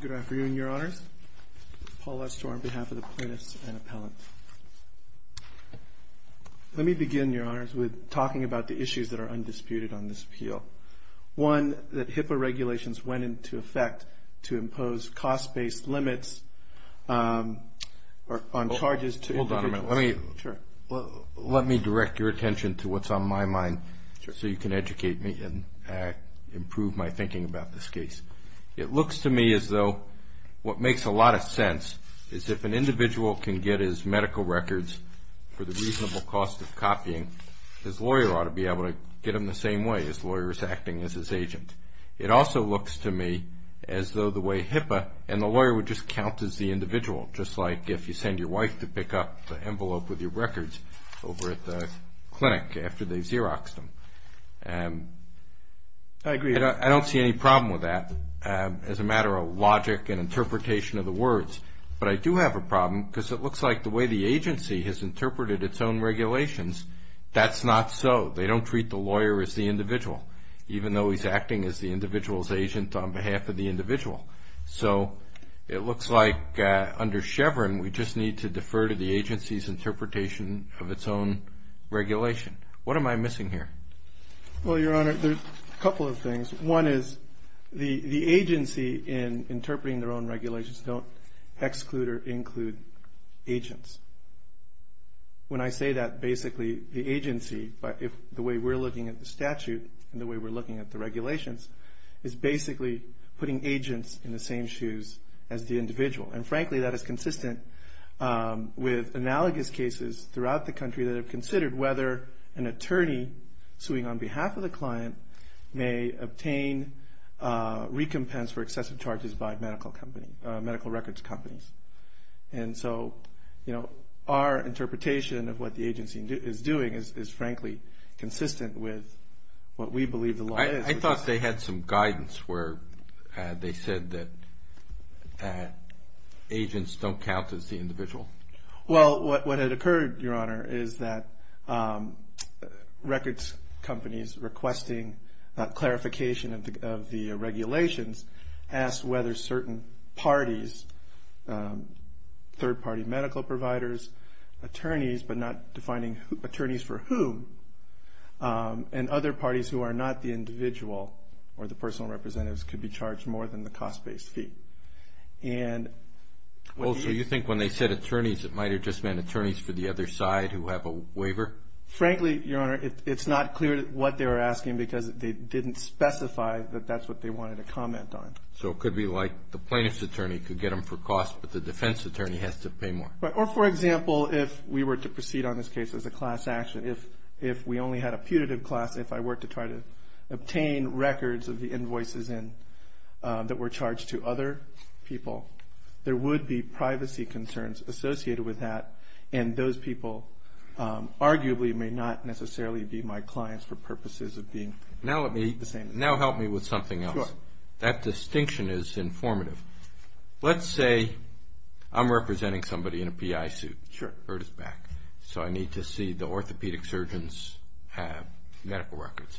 Good afternoon, Your Honors. Paul Estor on behalf of the Plaintiffs and Appellants. Let me begin, Your Honors, with talking about the issues that are undisputed on this appeal. One, that HIPAA regulations went into effect to impose cost-based limits on charges to individuals. Hold on a minute. Let me direct your attention to what's on my mind so you can educate me and improve my thinking about this case. It looks to me as though what makes a lot of sense is if an individual can get his medical records for the reasonable cost of copying, his lawyer ought to be able to get them the same way. His lawyer is acting as his agent. It also looks to me as though the way HIPAA and the lawyer would just count as the individual, just like if you send your wife to pick up the envelope with your records over at the clinic after they've Xeroxed them. I agree. I don't see any problem with that as a matter of logic and interpretation of the words. But I do have a problem because it looks like the way the agency has interpreted its own regulations, that's not so. They don't treat the lawyer as the individual, even though he's acting as the individual's agent on behalf of the individual. So it looks like under Chevron we just need to defer to the agency's interpretation of its own regulation. What am I missing here? Well, Your Honor, there's a couple of things. One is the agency in interpreting their own regulations don't exclude or include agents. When I say that, basically the agency, the way we're looking at the statute and the way we're looking at the regulations, is basically putting agents in the same shoes as the individual. And, frankly, that is consistent with analogous cases throughout the country that have considered whether an attorney suing on behalf of the client may obtain recompense for excessive charges by medical company, medical records companies. And so, you know, our interpretation of what the agency is doing is, frankly, consistent with what we believe the law is. I thought they had some guidance where they said that agents don't count as the individual. Well, what had occurred, Your Honor, is that records companies requesting clarification of the regulations asked whether certain parties, third-party medical providers, attorneys but not defining attorneys for whom, and other parties who are not the individual or the personal representatives could be charged more than the cost-based fee. And what he is... Oh, so you think when they said attorneys, it might have just meant attorneys for the other side who have a waiver? Frankly, Your Honor, it's not clear what they were asking because they didn't specify that that's what they wanted to comment on. So it could be like the plaintiff's attorney could get them for cost, but the defense attorney has to pay more. Or, for example, if we were to proceed on this case as a class action, if we only had a putative class, if I were to try to obtain records of the invoices that were charged to other people, there would be privacy concerns associated with that, and those people arguably may not necessarily be my clients for purposes of being the same. Now help me with something else. Sure. That distinction is informative. Let's say I'm representing somebody in a PI suit. Sure. So I need to see the orthopedic surgeon's medical records.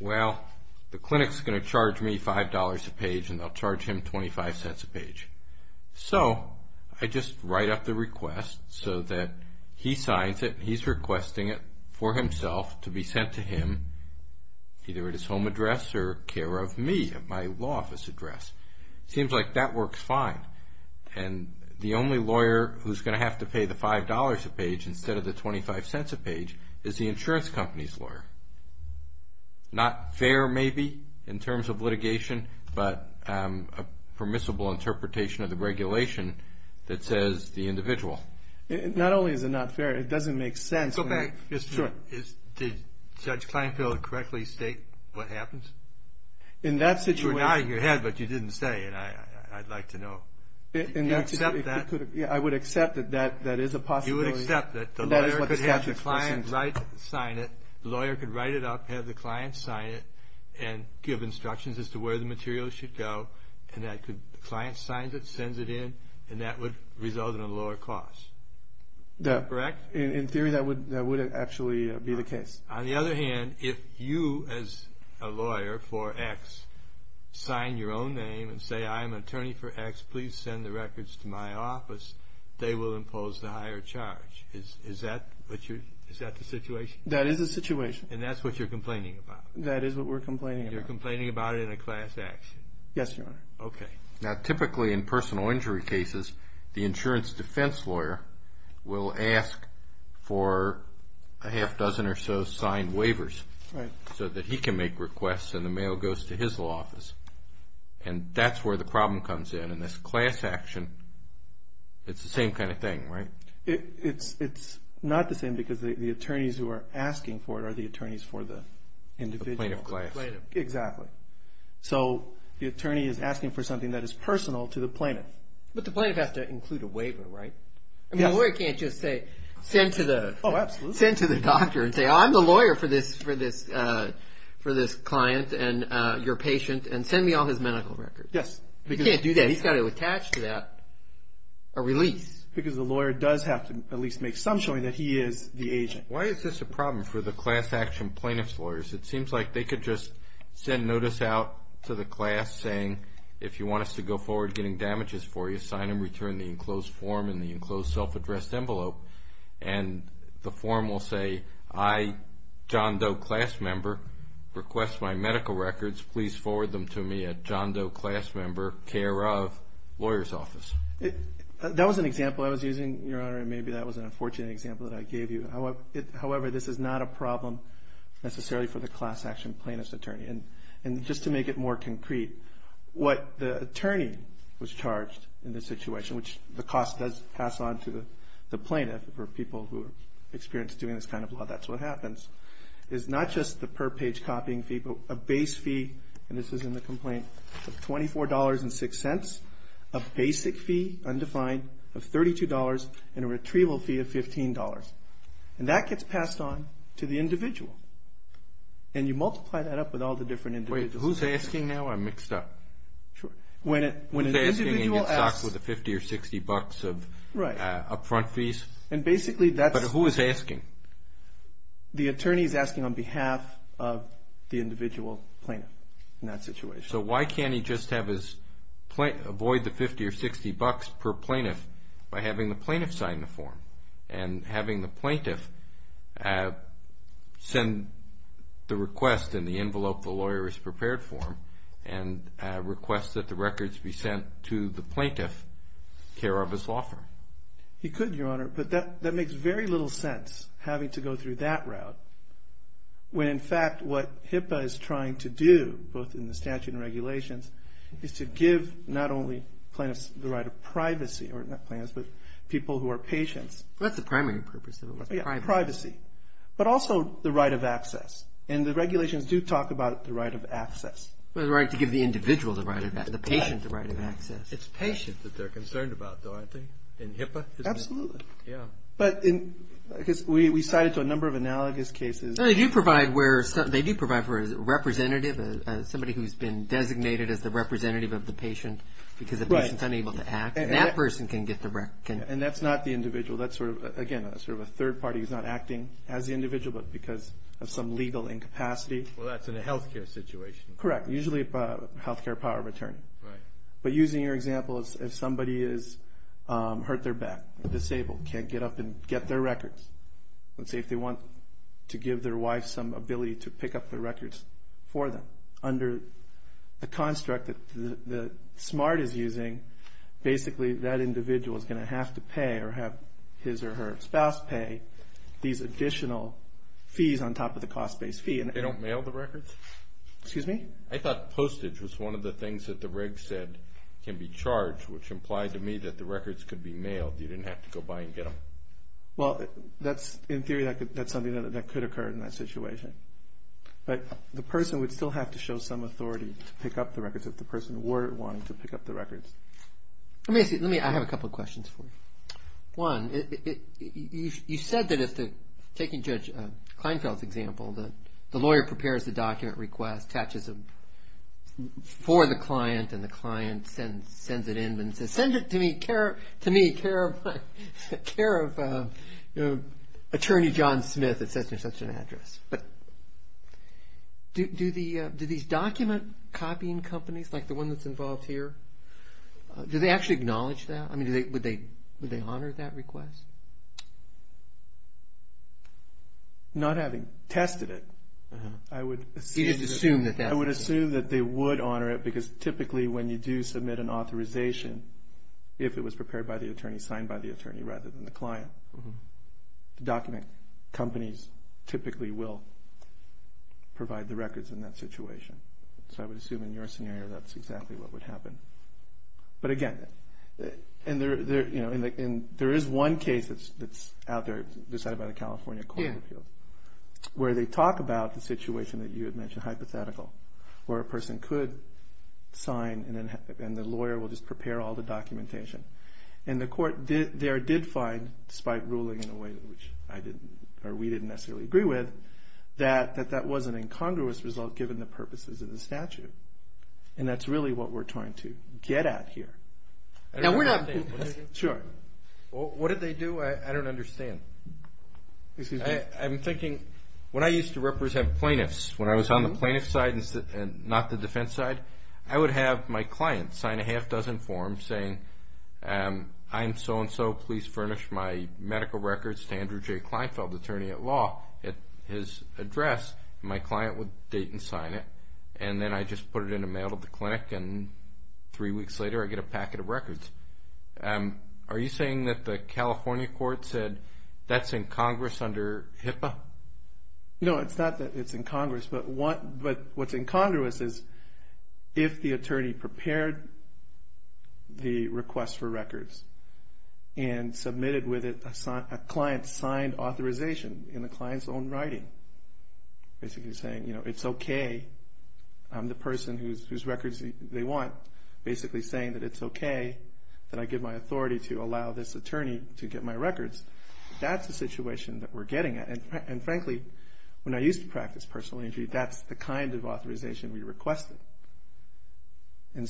Well, the clinic's going to charge me $5 a page, and they'll charge him $0.25 a page. So I just write up the request so that he signs it, and he's requesting it for himself to be sent to him either at his home address or care of me at my law office address. Seems like that works fine. And the only lawyer who's going to have to pay the $5 a page instead of the $0.25 a page is the insurance company's lawyer. Not fair maybe in terms of litigation, but a permissible interpretation of the regulation that says the individual. Not only is it not fair, it doesn't make sense. Go back. Sure. Did Judge Kleinfeld correctly state what happens? In that situation. You were nodding your head, but you didn't say it. I'd like to know. Do you accept that? I would accept that that is a possibility. You would accept that the lawyer could have the client sign it, the lawyer could write it up, have the client sign it, and give instructions as to where the material should go, and the client signs it, sends it in, and that would result in a lower cost. Correct? In theory, that would actually be the case. On the other hand, if you as a lawyer for X sign your own name and say I'm an attorney for X, please send the records to my office, they will impose the higher charge. Is that the situation? That is the situation. And that's what you're complaining about? That is what we're complaining about. You're complaining about it in a class action? Yes, Your Honor. Okay. Now typically in personal injury cases, the insurance defense lawyer will ask for a half dozen or so signed waivers so that he can make requests and the mail goes to his law office. And that's where the problem comes in. In this class action, it's the same kind of thing, right? It's not the same because the attorneys who are asking for it are the attorneys for the individual. The plaintiff. Exactly. So the attorney is asking for something that is personal to the plaintiff. But the plaintiff has to include a waiver, right? Yes. The lawyer can't just say send to the doctor and say I'm the lawyer for this client and your patient and send me all his medical records. Yes. He can't do that. He's got to attach to that a release. Because the lawyer does have to at least make some showing that he is the agent. Why is this a problem for the class action plaintiff's lawyers? It seems like they could just send notice out to the class saying if you want us to go forward getting damages for you, sign and return the enclosed form and the enclosed self-addressed envelope. And the form will say I, John Doe, class member, request my medical records. Please forward them to me at John Doe, class member, care of, lawyer's office. That was an example I was using, Your Honor, and maybe that was an unfortunate example that I gave you. However, this is not a problem necessarily for the class action plaintiff's attorney. And just to make it more concrete, what the attorney was charged in this situation, which the cost does pass on to the plaintiff for people who experience doing this kind of law, that's what happens, is not just the per-page copying fee but a base fee, and this is in the complaint, of $24.06, a basic fee, undefined, of $32, and a retrieval fee of $15. And that gets passed on to the individual. And you multiply that up with all the different individuals. Wait. Who's asking now? I'm mixed up. Sure. When an individual asks… Who's asking and gets stocked with the $50 or $60 of up-front fees? And basically that's… But who is asking? The attorney is asking on behalf of the individual plaintiff in that situation. So why can't he just avoid the $50 or $60 per plaintiff by having the plaintiff sign the form and having the plaintiff send the request in the envelope the lawyer has prepared for him and request that the records be sent to the plaintiff, care of his law firm? He could, Your Honor, but that makes very little sense, having to go through that route, when in fact what HIPAA is trying to do, both in the statute and regulations, is to give not only plaintiffs the right of privacy, or not plaintiffs, but people who are patients. That's the primary purpose of it. Privacy, but also the right of access. And the regulations do talk about the right of access. The right to give the individual the right of access, the patient the right of access. It's patients that they're concerned about, though, aren't they, in HIPAA? Absolutely. Yeah. But we cite it to a number of analogous cases. They do provide for a representative, somebody who's been designated as the representative of the patient because the patient's unable to act. And that person can get the record. And that's not the individual. Again, that's sort of a third party who's not acting as the individual, but because of some legal incapacity. Well, that's in a health care situation. Correct. Usually a health care power of attorney. But using your example, if somebody is hurt their back, disabled, can't get up and get their records, let's say if they want to give their wife some ability to pick up the records for them. Under the construct that SMART is using, basically that individual is going to have to pay or have his or her spouse pay these additional fees on top of the cost-based fee. They don't mail the records? Excuse me? I thought postage was one of the things that the reg said can be charged, which implied to me that the records could be mailed. You didn't have to go by and get them. Well, in theory, that's something that could occur in that situation. But the person would still have to show some authority to pick up the records if the person were wanting to pick up the records. Let me ask you, I have a couple of questions for you. One, you said that if, taking Judge Kleinfeld's example, the lawyer prepares the document request, attaches it for the client, and the client sends it in and says, send it to me, care of Attorney John Smith, et cetera, et cetera, et cetera. Do these document copying companies, like the one that's involved here, do they actually acknowledge that? I mean, would they honor that request? Not having tested it, I would assume that they would honor it because typically when you do submit an authorization, if it was prepared by the attorney, signed by the attorney rather than the client, the document companies typically will provide the records in that situation. So I would assume in your scenario that's exactly what would happen. But again, there is one case that's out there decided by the California Court of Appeals where they talk about the situation that you had mentioned, hypothetical, where a person could sign and the lawyer will just prepare all the documentation. And the court there did find, despite ruling in a way that we didn't necessarily agree with, that that was an incongruous result given the purposes of the statute. And that's really what we're trying to get at here. Now, we're not saying this. Sure. What did they do? I don't understand. Excuse me. I'm thinking, when I used to represent plaintiffs, when I was on the plaintiff side and not the defense side, I would have my client sign a half-dozen forms saying, I'm so-and-so, please furnish my medical records to Andrew J. Kleinfeld, attorney at law. At his address, my client would date and sign it, and then I just put it in a mail to the clinic and three weeks later I get a packet of records. Are you saying that the California court said that's incongruous under HIPAA? No, it's not that it's incongruous, but what's incongruous is if the attorney prepared the request for records and submitted with it a client-signed authorization in the client's own writing, basically saying it's okay, I'm the person whose records they want, basically saying that it's okay that I give my authority to allow this attorney to get my records, that's the situation that we're getting at. And frankly, when I used to practice personal injury, that's the kind of authorization we requested. How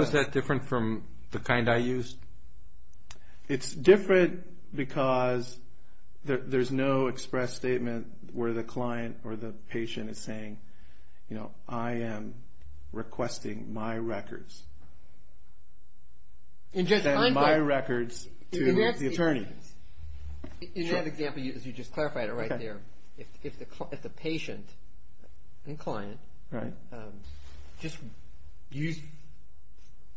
is that different from the kind I used? It's different because there's no express statement where the client or the patient is saying, I am requesting my records and my records to the attorney. In that example, as you just clarified it right there, if the patient and client just used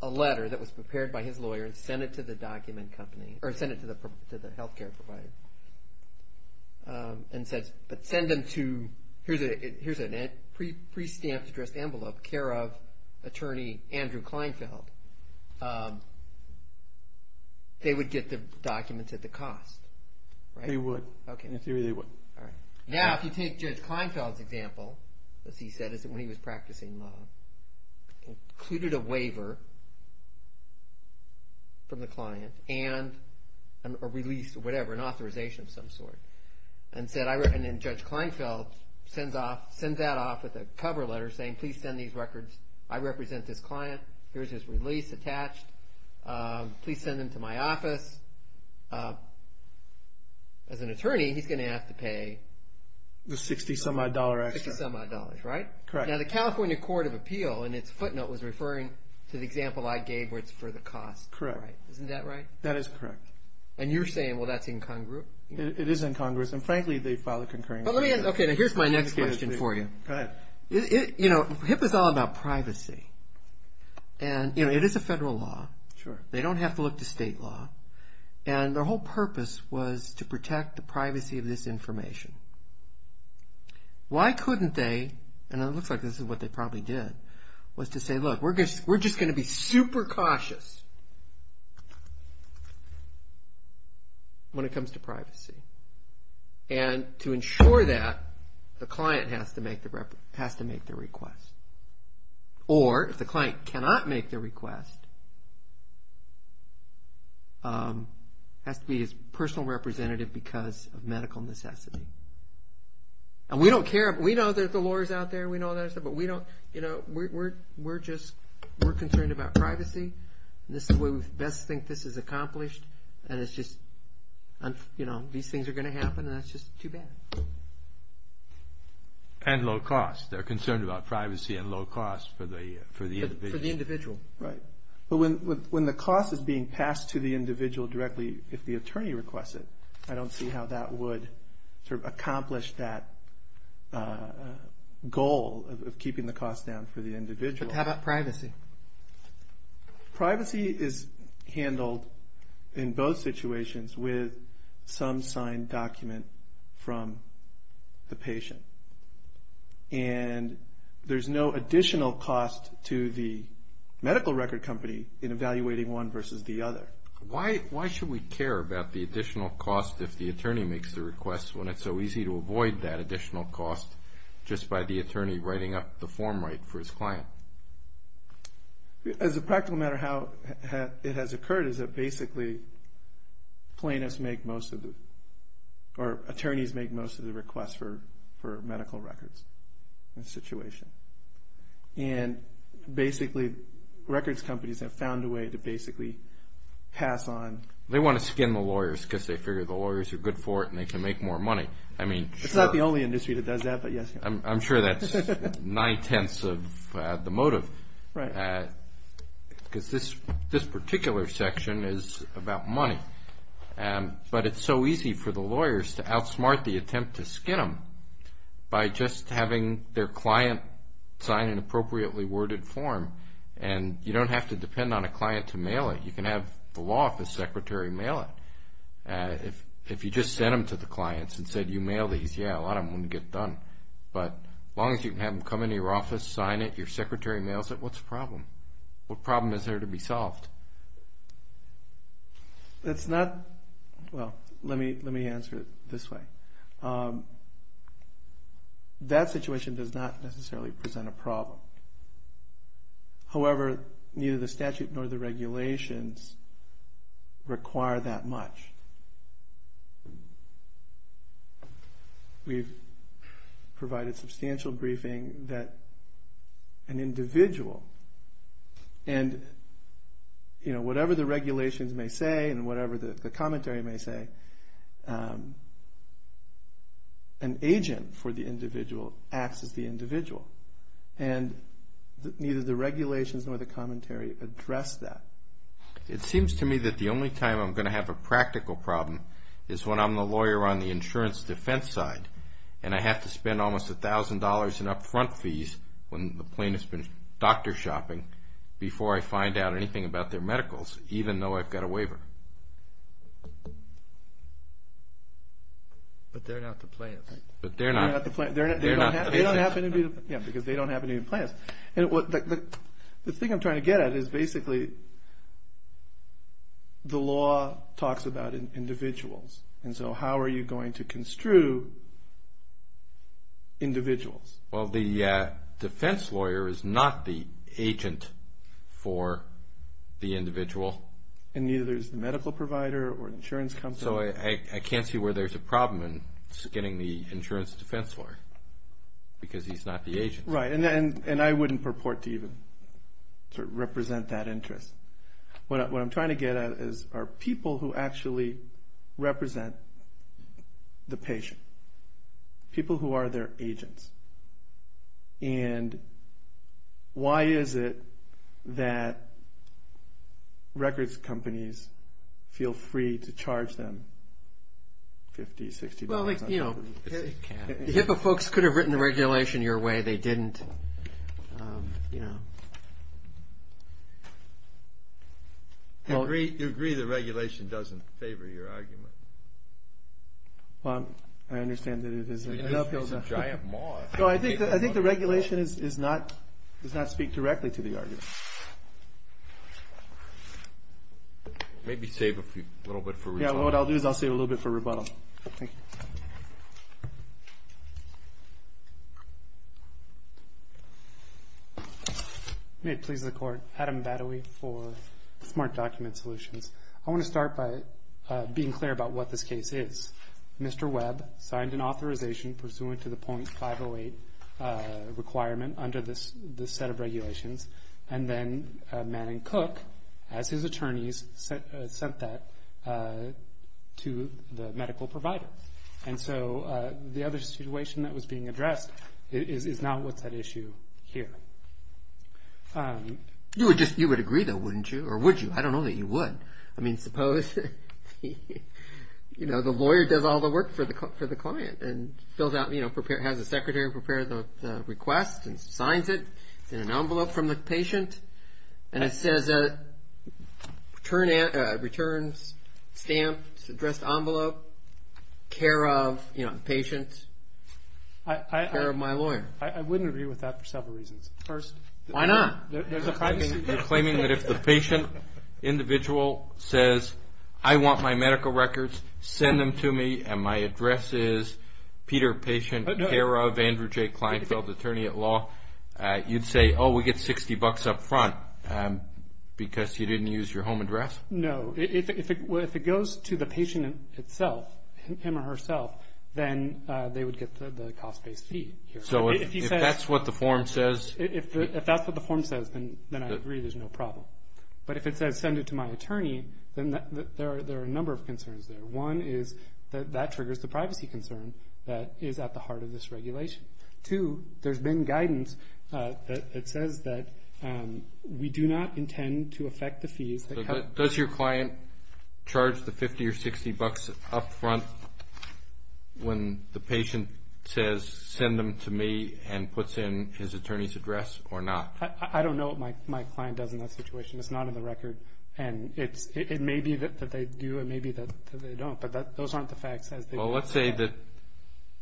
a letter that was prepared by his lawyer and sent it to the document company or sent it to the health care provider and said, but send them to, here's a pre-stamped addressed envelope, care of attorney Andrew Kleinfeld, they would get the documents at the cost, right? They would. In theory, they would. Now, if you take Judge Kleinfeld's example, as he said, when he was practicing law, included a waiver from the client and a release or whatever, an authorization of some sort. And then Judge Kleinfeld sends that off with a cover letter saying, please send these records, I represent this client, here's his release attached, please send them to my office. As an attorney, he's going to have to pay the $60 some odd extra. $60 some odd, right? Correct. Now, the California Court of Appeal in its footnote was referring to the example I gave where it's for the cost. Correct. Isn't that right? That is correct. And you're saying, well, that's incongruent? It is incongruous, and frankly, they filed a concurring complaint. Okay, now here's my next question for you. Go ahead. You know, HIPAA's all about privacy. And, you know, it is a federal law. Sure. They don't have to look to state law. And their whole purpose was to protect the privacy of this information. Why couldn't they, and it looks like this is what they probably did, was to say, look, we're just going to be super cautious when it comes to privacy. And to ensure that, the client has to make the request. Or if the client cannot make the request, has to be his personal representative because of medical necessity. And we don't care. We know there's the lawyers out there. We know all that stuff. But we don't, you know, we're just, we're concerned about privacy. This is the way we best think this is accomplished. And it's just, you know, these things are going to happen, and that's just too bad. And low cost. They're concerned about privacy and low cost for the individual. For the individual. Right. But when the cost is being passed to the individual directly, if the attorney requests it, I don't see how that would sort of accomplish that goal of keeping the cost down for the individual. But how about privacy? Privacy is handled in both situations with some signed document from the patient. And there's no additional cost to the medical record company in evaluating one versus the other. Why should we care about the additional cost if the attorney makes the request when it's so easy to avoid that additional cost just by the attorney writing up the form right for his client? As a practical matter, how it has occurred is that basically plaintiffs make most of the, or attorneys make most of the requests for medical records in this situation. And basically records companies have found a way to basically pass on. They want to skin the lawyers because they figure the lawyers are good for it and they can make more money. I mean, sure. It's not the only industry that does that, but yes. I'm sure that's nine-tenths of the motive. Right. Because this particular section is about money. But it's so easy for the lawyers to outsmart the attempt to skin them by just having their client sign an appropriately worded form. And you don't have to depend on a client to mail it. You can have the law office secretary mail it. If you just sent them to the clients and said, you mail these, yeah, a lot of them wouldn't get done. But as long as you can have them come into your office, sign it, your secretary mails it, what's the problem? What problem is there to be solved? That's not – well, let me answer it this way. That situation does not necessarily present a problem. However, neither the statute nor the regulations require that much. We've provided substantial briefing that an individual – and whatever the regulations may say and whatever the commentary may say, an agent for the individual acts as the individual. And neither the regulations nor the commentary address that. It seems to me that the only time I'm going to have a practical problem is when I'm the lawyer on the insurance defense side and I have to spend almost $1,000 in upfront fees when the plaintiff's been doctor shopping before I find out anything about their medicals, even though I've got a waiver. But they're not the plaintiff. But they're not. They're not the plaintiff. They don't happen to be the – yeah, because they don't happen to be the plaintiff. The thing I'm trying to get at is basically the law talks about individuals. And so how are you going to construe individuals? Well, the defense lawyer is not the agent for the individual. And neither is the medical provider or insurance company. So I can't see where there's a problem in getting the insurance defense lawyer because he's not the agent. Right. And I wouldn't purport to even represent that interest. What I'm trying to get at is are people who actually represent the patient, people who are their agents. And why is it that records companies feel free to charge them $50, $60? HIPAA folks could have written the regulation your way. They didn't. You agree the regulation doesn't favor your argument? I understand that it is an uphill battle. It's a giant moth. I think the regulation does not speak directly to the argument. Maybe save a little bit for rebuttal. Yeah, what I'll do is I'll save a little bit for rebuttal. Thank you. May it please the Court. Adam Badawi for Smart Document Solutions. I want to start by being clear about what this case is. Mr. Webb signed an authorization pursuant to the .508 requirement under this set of regulations. And then Manning Cook, as his attorneys, sent that to the medical provider. And so the other situation that was being addressed is not what's at issue here. You would agree, though, wouldn't you? Or would you? I don't know that you would. I mean, suppose the lawyer does all the work for the client and has the secretary prepare the request and signs it in an envelope from the patient, and it says returns stamped, addressed envelope, care of patient, care of my lawyer. I wouldn't agree with that for several reasons. First, there's a privacy issue. Why not? You're claiming that if the patient individual says, I want my medical records, send them to me, and my address is Peter, patient, care of Andrew J. Kleinfeld, attorney at law, you'd say, oh, we get $60 up front because you didn't use your home address? No. If it goes to the patient himself, him or herself, then they would get the cost-based fee. So if that's what the form says. If that's what the form says, then I agree there's no problem. But if it says send it to my attorney, then there are a number of concerns there. One is that that triggers the privacy concern that is at the heart of this regulation. Two, there's been guidance that says that we do not intend to affect the fees. Does your client charge the $50 or $60 up front when the patient says send them to me and puts in his attorney's address or not? I don't know what my client does in that situation. It's not in the record. And it may be that they do, it may be that they don't. But those aren't the facts. Well, let's say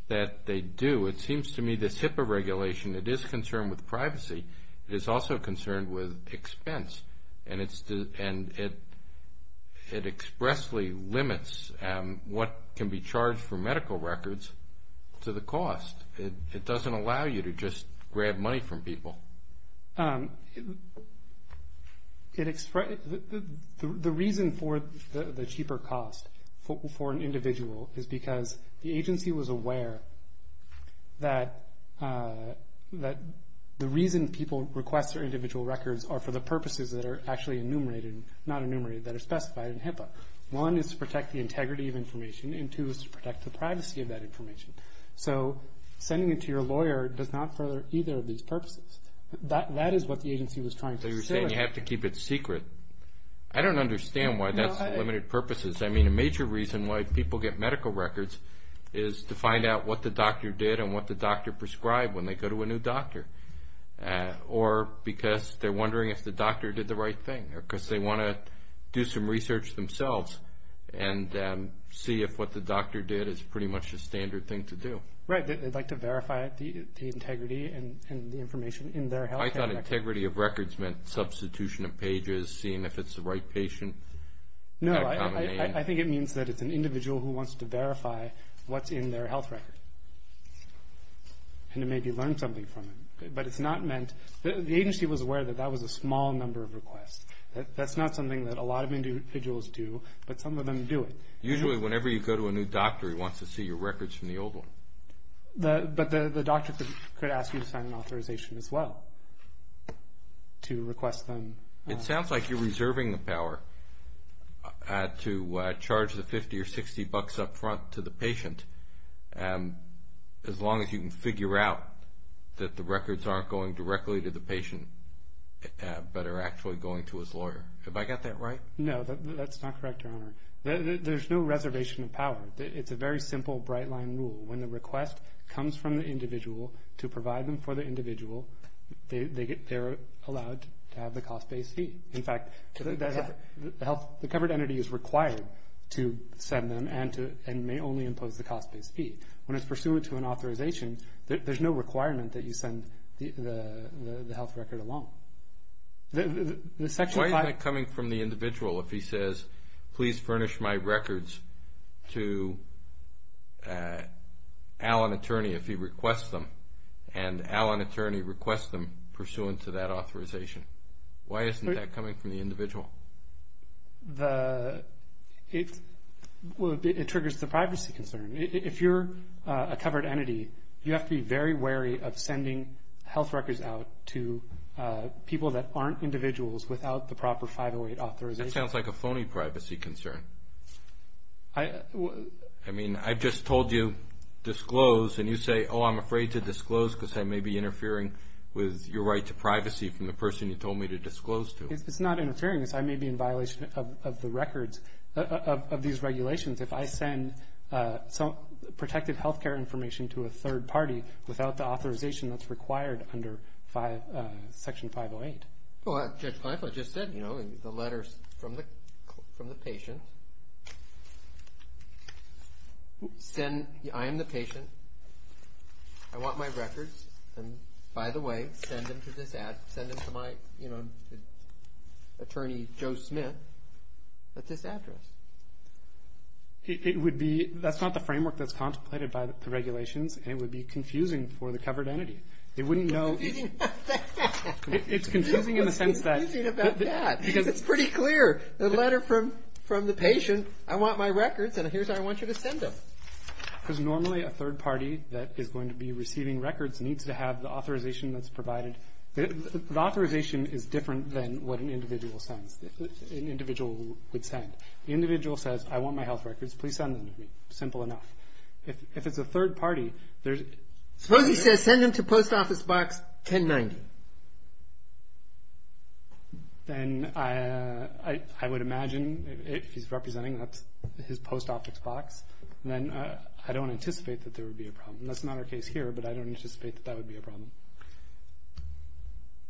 that they do. It seems to me this HIPAA regulation, it is concerned with privacy. It is also concerned with expense. And it expressly limits what can be charged for medical records to the cost. It doesn't allow you to just grab money from people. The reason for the cheaper cost for an individual is because the agency was aware that the reason people request their individual records are for the purposes that are actually enumerated and not enumerated that are specified in HIPAA. One is to protect the integrity of information, and two is to protect the privacy of that information. So sending it to your lawyer does not further either of these purposes. That is what the agency was trying to say. So you're saying you have to keep it secret. I don't understand why that's limited purposes. I mean, a major reason why people get medical records is to find out what the doctor did and what the doctor prescribed when they go to a new doctor. Or because they're wondering if the doctor did the right thing or because they want to do some research themselves and see if what the doctor did is pretty much the standard thing to do. Right, they'd like to verify the integrity and the information in their health record. I thought integrity of records meant substitution of pages, seeing if it's the right patient. No, I think it means that it's an individual who wants to verify what's in their health record and to maybe learn something from it. But it's not meant to – the agency was aware that that was a small number of requests. That's not something that a lot of individuals do, but some of them do it. Usually whenever you go to a new doctor, he wants to see your records from the old one. But the doctor could ask you to sign an authorization as well to request them. It sounds like you're reserving the power to charge the 50 or 60 bucks up front to the patient as long as you can figure out that the records aren't going directly to the patient but are actually going to his lawyer. Have I got that right? No, that's not correct, Your Honor. There's no reservation of power. It's a very simple bright-line rule. When the request comes from the individual to provide them for the individual, they're allowed to have the cost-based fee. In fact, the covered entity is required to send them and may only impose the cost-based fee. When it's pursuant to an authorization, there's no requirement that you send the health record along. Why is that coming from the individual if he says, please furnish my records to Al an attorney if he requests them, and Al an attorney requests them pursuant to that authorization? Why isn't that coming from the individual? It triggers the privacy concern. If you're a covered entity, you have to be very wary of sending health records out to people that aren't individuals without the proper 508 authorization. That sounds like a phony privacy concern. I mean, I just told you disclose, and you say, oh, I'm afraid to disclose because I may be interfering with your right to privacy from the person you told me to disclose to. It's not interfering. I may be in violation of these regulations. If I send protected health care information to a third party without the authorization that's required under Section 508. Well, Judge Kleinfeld just said, you know, the letters from the patient. I am the patient. I want my records. By the way, send them to my attorney, Joe Smith, at this address. That's not the framework that's contemplated by the regulations, and it would be confusing for the covered entity. It wouldn't know. It's confusing about that. It's confusing in the sense that. It's confusing about that because it's pretty clear. The letter from the patient, I want my records, and here's how I want you to send them. Because normally a third party that is going to be receiving records needs to have the authorization that's provided. The authorization is different than what an individual sends, an individual would send. The individual says, I want my health records. Please send them to me. Simple enough. If it's a third party, there's... Suppose he says, send them to post office box 1090. Then I would imagine if he's representing his post office box, then I don't anticipate that there would be a problem. That's not our case here, but I don't anticipate that that would be a problem.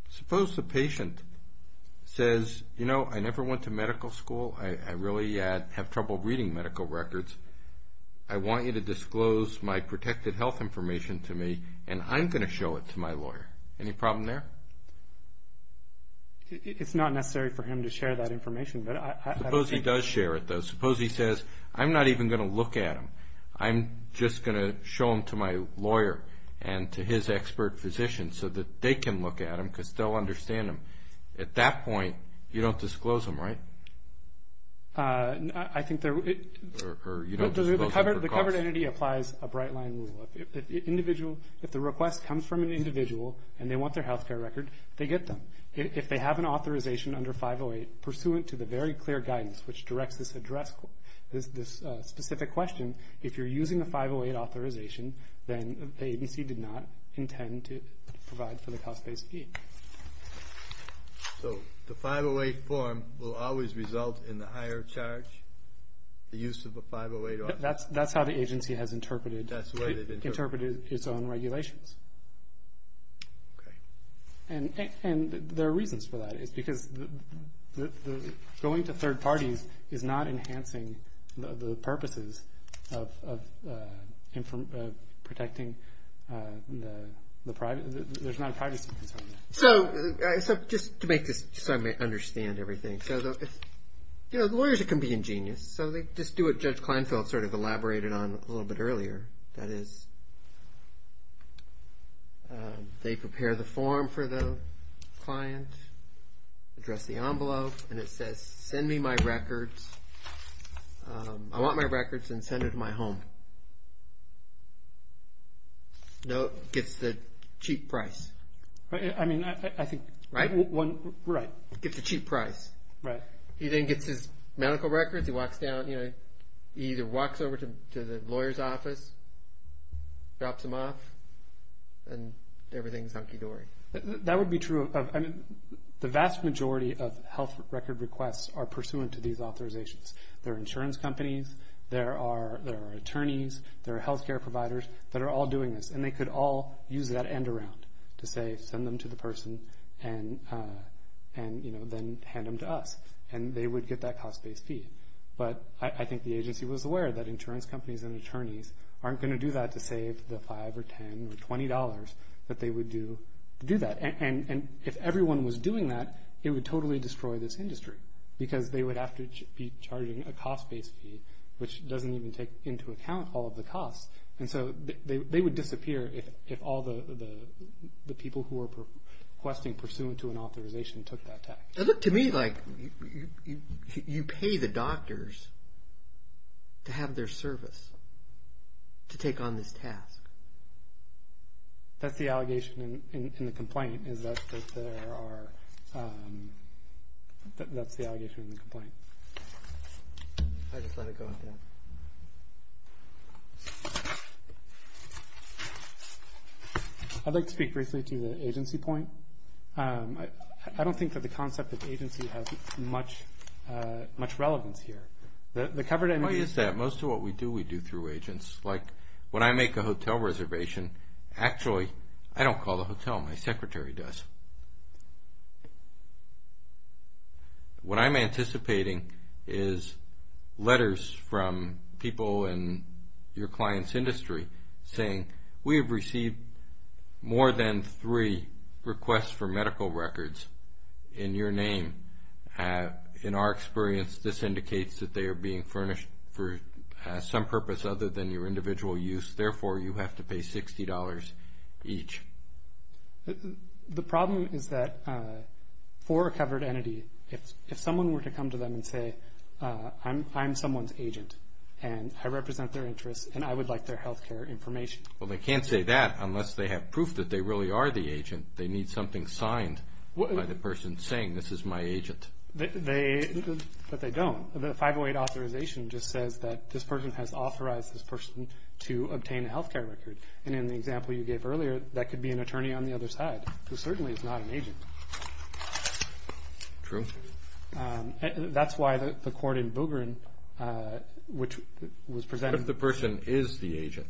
Suppose the patient says, you know, I never went to medical school. I really have trouble reading medical records. I want you to disclose my protected health information to me, and I'm going to show it to my lawyer. Any problem there? It's not necessary for him to share that information, but I don't think... Suppose he does share it, though. Suppose he says, I'm not even going to look at them. I'm just going to show them to my lawyer and to his expert physician so that they can look at them because they'll understand them. At that point, you don't disclose them, right? I think there... Or you don't disclose them for cost. The covered entity applies a bright line rule. If the request comes from an individual and they want their health care record, they get them. If they have an authorization under 508 pursuant to the very clear guidance which directs this specific question, if you're using a 508 authorization, then the agency did not intend to provide for the cost-based fee. So the 508 form will always result in the higher charge, the use of a 508 authorization? That's how the agency has interpreted it. That's the way they've interpreted it. Interpreted its own regulations. Okay. And there are reasons for that. It's because going to third parties is not enhancing the purposes of protecting the private... There's not a privacy concern there. So just to make this so I may understand everything. Lawyers can be ingenious, so they just do what Judge Kleinfeld sort of elaborated on a little bit earlier, that is they prepare the form for the client, address the envelope, and it says send me my records. I want my records and send it to my home. Gets the cheap price. I mean, I think... Right? Right. Gets the cheap price. Right. He then gets his medical records. He walks down... He either walks over to the lawyer's office, drops them off, and everything's hunky-dory. That would be true. The vast majority of health record requests are pursuant to these authorizations. There are insurance companies. There are attorneys. There are health care providers that are all doing this, and they could all use that end around to say send them to the person and then hand them to us. And they would get that cost-based fee. But I think the agency was aware that insurance companies and attorneys aren't going to do that to save the $5 or $10 or $20 that they would do to do that. And if everyone was doing that, it would totally destroy this industry because they would have to be charging a cost-based fee, which doesn't even take into account all of the costs. And so they would disappear if all the people who were requesting pursuant to an authorization took that tax. It looked to me like you pay the doctors to have their service to take on this task. That's the allegation in the complaint is that there are – that's the allegation in the complaint. I just let it go like that. I'd like to speak briefly to the agency point. I don't think that the concept of agency has much relevance here. The covered – Why is that? Most of what we do, we do through agents. Like when I make a hotel reservation, actually I don't call the hotel, my secretary does. What I'm anticipating is letters from people in your client's industry saying, we have received more than three requests for medical records in your name. In our experience, this indicates that they are being furnished for some purpose other than your individual use. Therefore, you have to pay $60 each. The problem is that for a covered entity, if someone were to come to them and say, I'm someone's agent and I represent their interests and I would like their health care information. Well, they can't say that unless they have proof that they really are the agent. They need something signed by the person saying, this is my agent. But they don't. The 508 authorization just says that this person has authorized this person to obtain a health care record. And in the example you gave earlier, that could be an attorney on the other side who certainly is not an agent. True. That's why the court in Boogerin, which was presented. What if the person is the agent?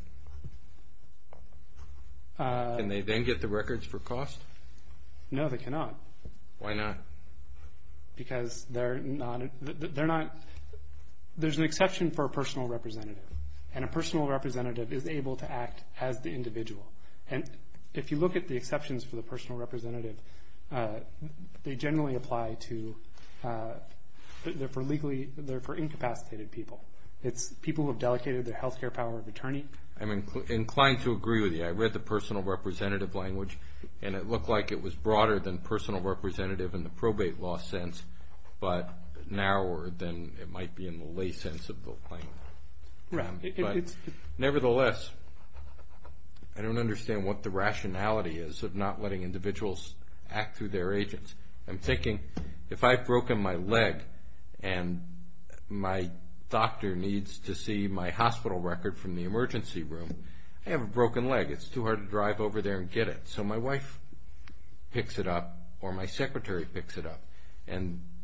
Can they then get the records for cost? No, they cannot. Why not? Because they're not, there's an exception for a personal representative. And a personal representative is able to act as the individual. And if you look at the exceptions for the personal representative, they generally apply to, they're for incapacitated people. It's people who have delegated their health care power of attorney. I'm inclined to agree with you. I read the personal representative language, and it looked like it was broader than personal representative in the probate law sense, but narrower than it might be in the lay sense of the language. Right. Nevertheless, I don't understand what the rationality is of not letting individuals act through their agents. I'm thinking if I've broken my leg and my doctor needs to see my hospital record from the emergency room, I have a broken leg, it's too hard to drive over there and get it. So my wife picks it up or my secretary picks it up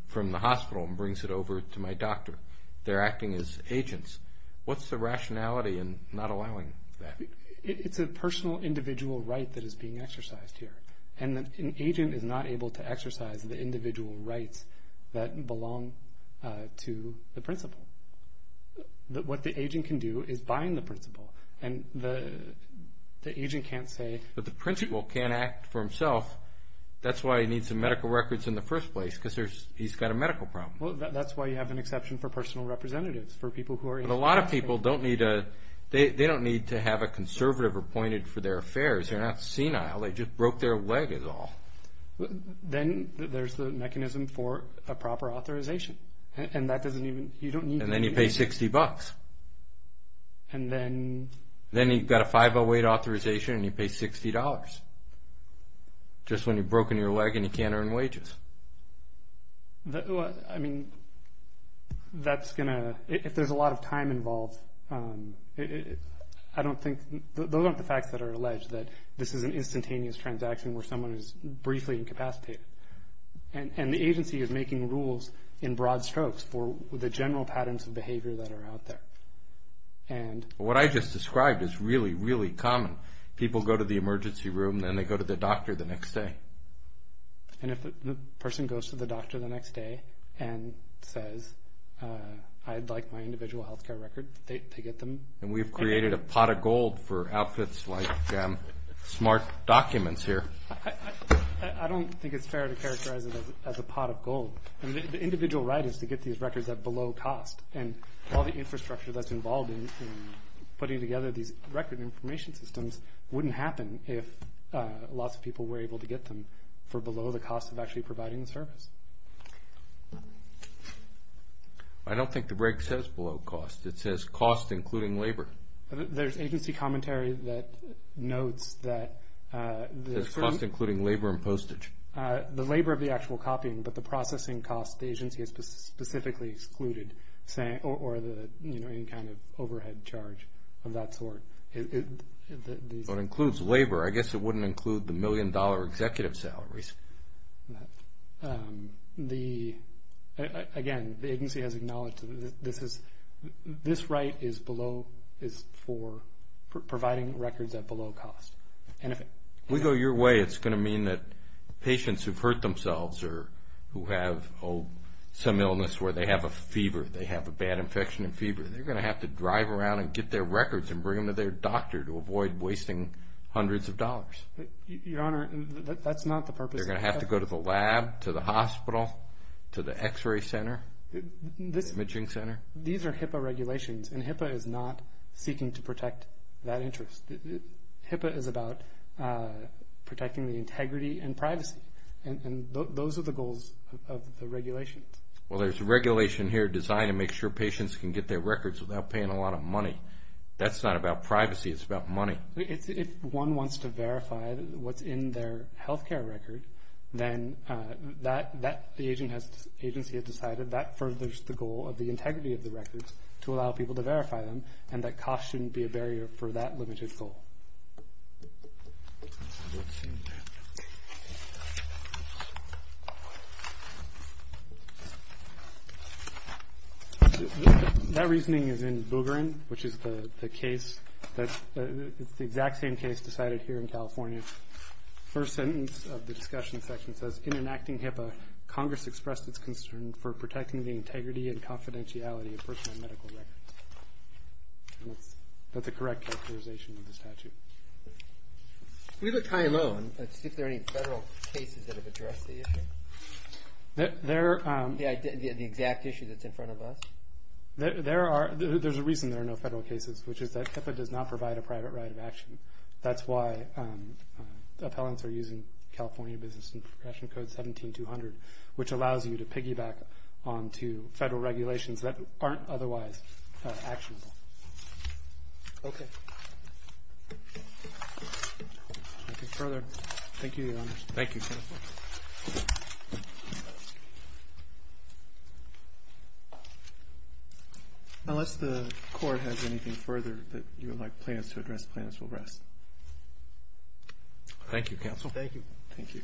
from the hospital and brings it over to my doctor. They're acting as agents. What's the rationality in not allowing that? It's a personal individual right that is being exercised here. And an agent is not able to exercise the individual rights that belong to the principal. What the agent can do is bind the principal, and the agent can't say – But the principal can't act for himself. That's why he needs some medical records in the first place, because he's got a medical problem. Well, that's why you have an exception for personal representatives, for people who are – But a lot of people don't need a – they don't need to have a conservative appointed for their affairs. They're not senile. They just broke their leg is all. Then there's the mechanism for a proper authorization. And that doesn't even – you don't need – And then you pay 60 bucks. And then – Then you've got a 508 authorization and you pay $60, just when you've broken your leg and you can't earn wages. Well, I mean, that's going to – if there's a lot of time involved, I don't think – those aren't the facts that are alleged, that this is an instantaneous transaction where someone is briefly incapacitated. And the agency is making rules in broad strokes for the general patterns of behavior that are out there. And – What I just described is really, really common. People go to the emergency room, then they go to the doctor the next day. And if the person goes to the doctor the next day and says, I'd like my individual health care record, they get them. And we've created a pot of gold for outfits like smart documents here. I don't think it's fair to characterize it as a pot of gold. I mean, the individual right is to get these records at below cost. And all the infrastructure that's involved in putting together these record information systems wouldn't happen if lots of people were able to get them for below the cost of actually providing the service. I don't think the reg says below cost. It says cost including labor. There's agency commentary that notes that – It says cost including labor and postage. The labor of the actual copying, but the processing cost the agency has specifically excluded, or any kind of overhead charge of that sort. It includes labor. I guess it wouldn't include the million-dollar executive salaries. Again, the agency has acknowledged this right is for providing records at below cost. If we go your way, it's going to mean that patients who've hurt themselves or who have some illness where they have a fever, they have a bad infection and fever, they're going to have to drive around and get their records and bring them to their doctor to avoid wasting hundreds of dollars. Your Honor, that's not the purpose. They're going to have to go to the lab, to the hospital, to the x-ray center, imaging center. These are HIPAA regulations, and HIPAA is not seeking to protect that interest. HIPAA is about protecting the integrity and privacy. And those are the goals of the regulations. Well, there's regulation here designed to make sure patients can get their records without paying a lot of money. That's not about privacy. It's about money. If one wants to verify what's in their health care record, then the agency has decided that furthers the goal of the integrity of the records to allow people to verify them, and that cost shouldn't be a barrier for that limited goal. Let's see. That reasoning is in Boogarin, which is the case that the exact same case decided here in California. First sentence of the discussion section says, in enacting HIPAA, Congress expressed its concern for protecting the integrity and confidentiality of personal medical records. That's a correct characterization of the statute. We looked high and low, and let's see if there are any federal cases that have addressed the issue. The exact issue that's in front of us? There's a reason there are no federal cases, which is that HIPAA does not provide a private right of action. That's why the appellants are using California Business Interpretation Code 17200, which allows you to piggyback onto federal regulations that aren't otherwise actionable. Okay. Anything further? Thank you, Your Honor. Thank you, Counsel. Unless the Court has anything further that you would like plaintiffs to address, plaintiffs will rest. Thank you, Counsel. Thank you. Thank you.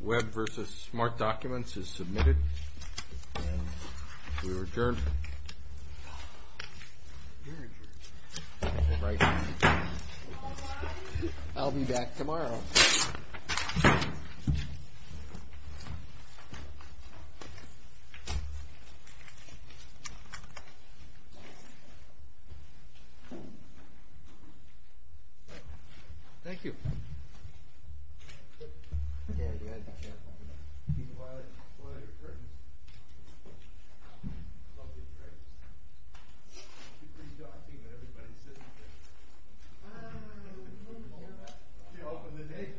Web versus Smart Documents is submitted, and we are adjourned. I'll be back tomorrow. Thank you. Thank you.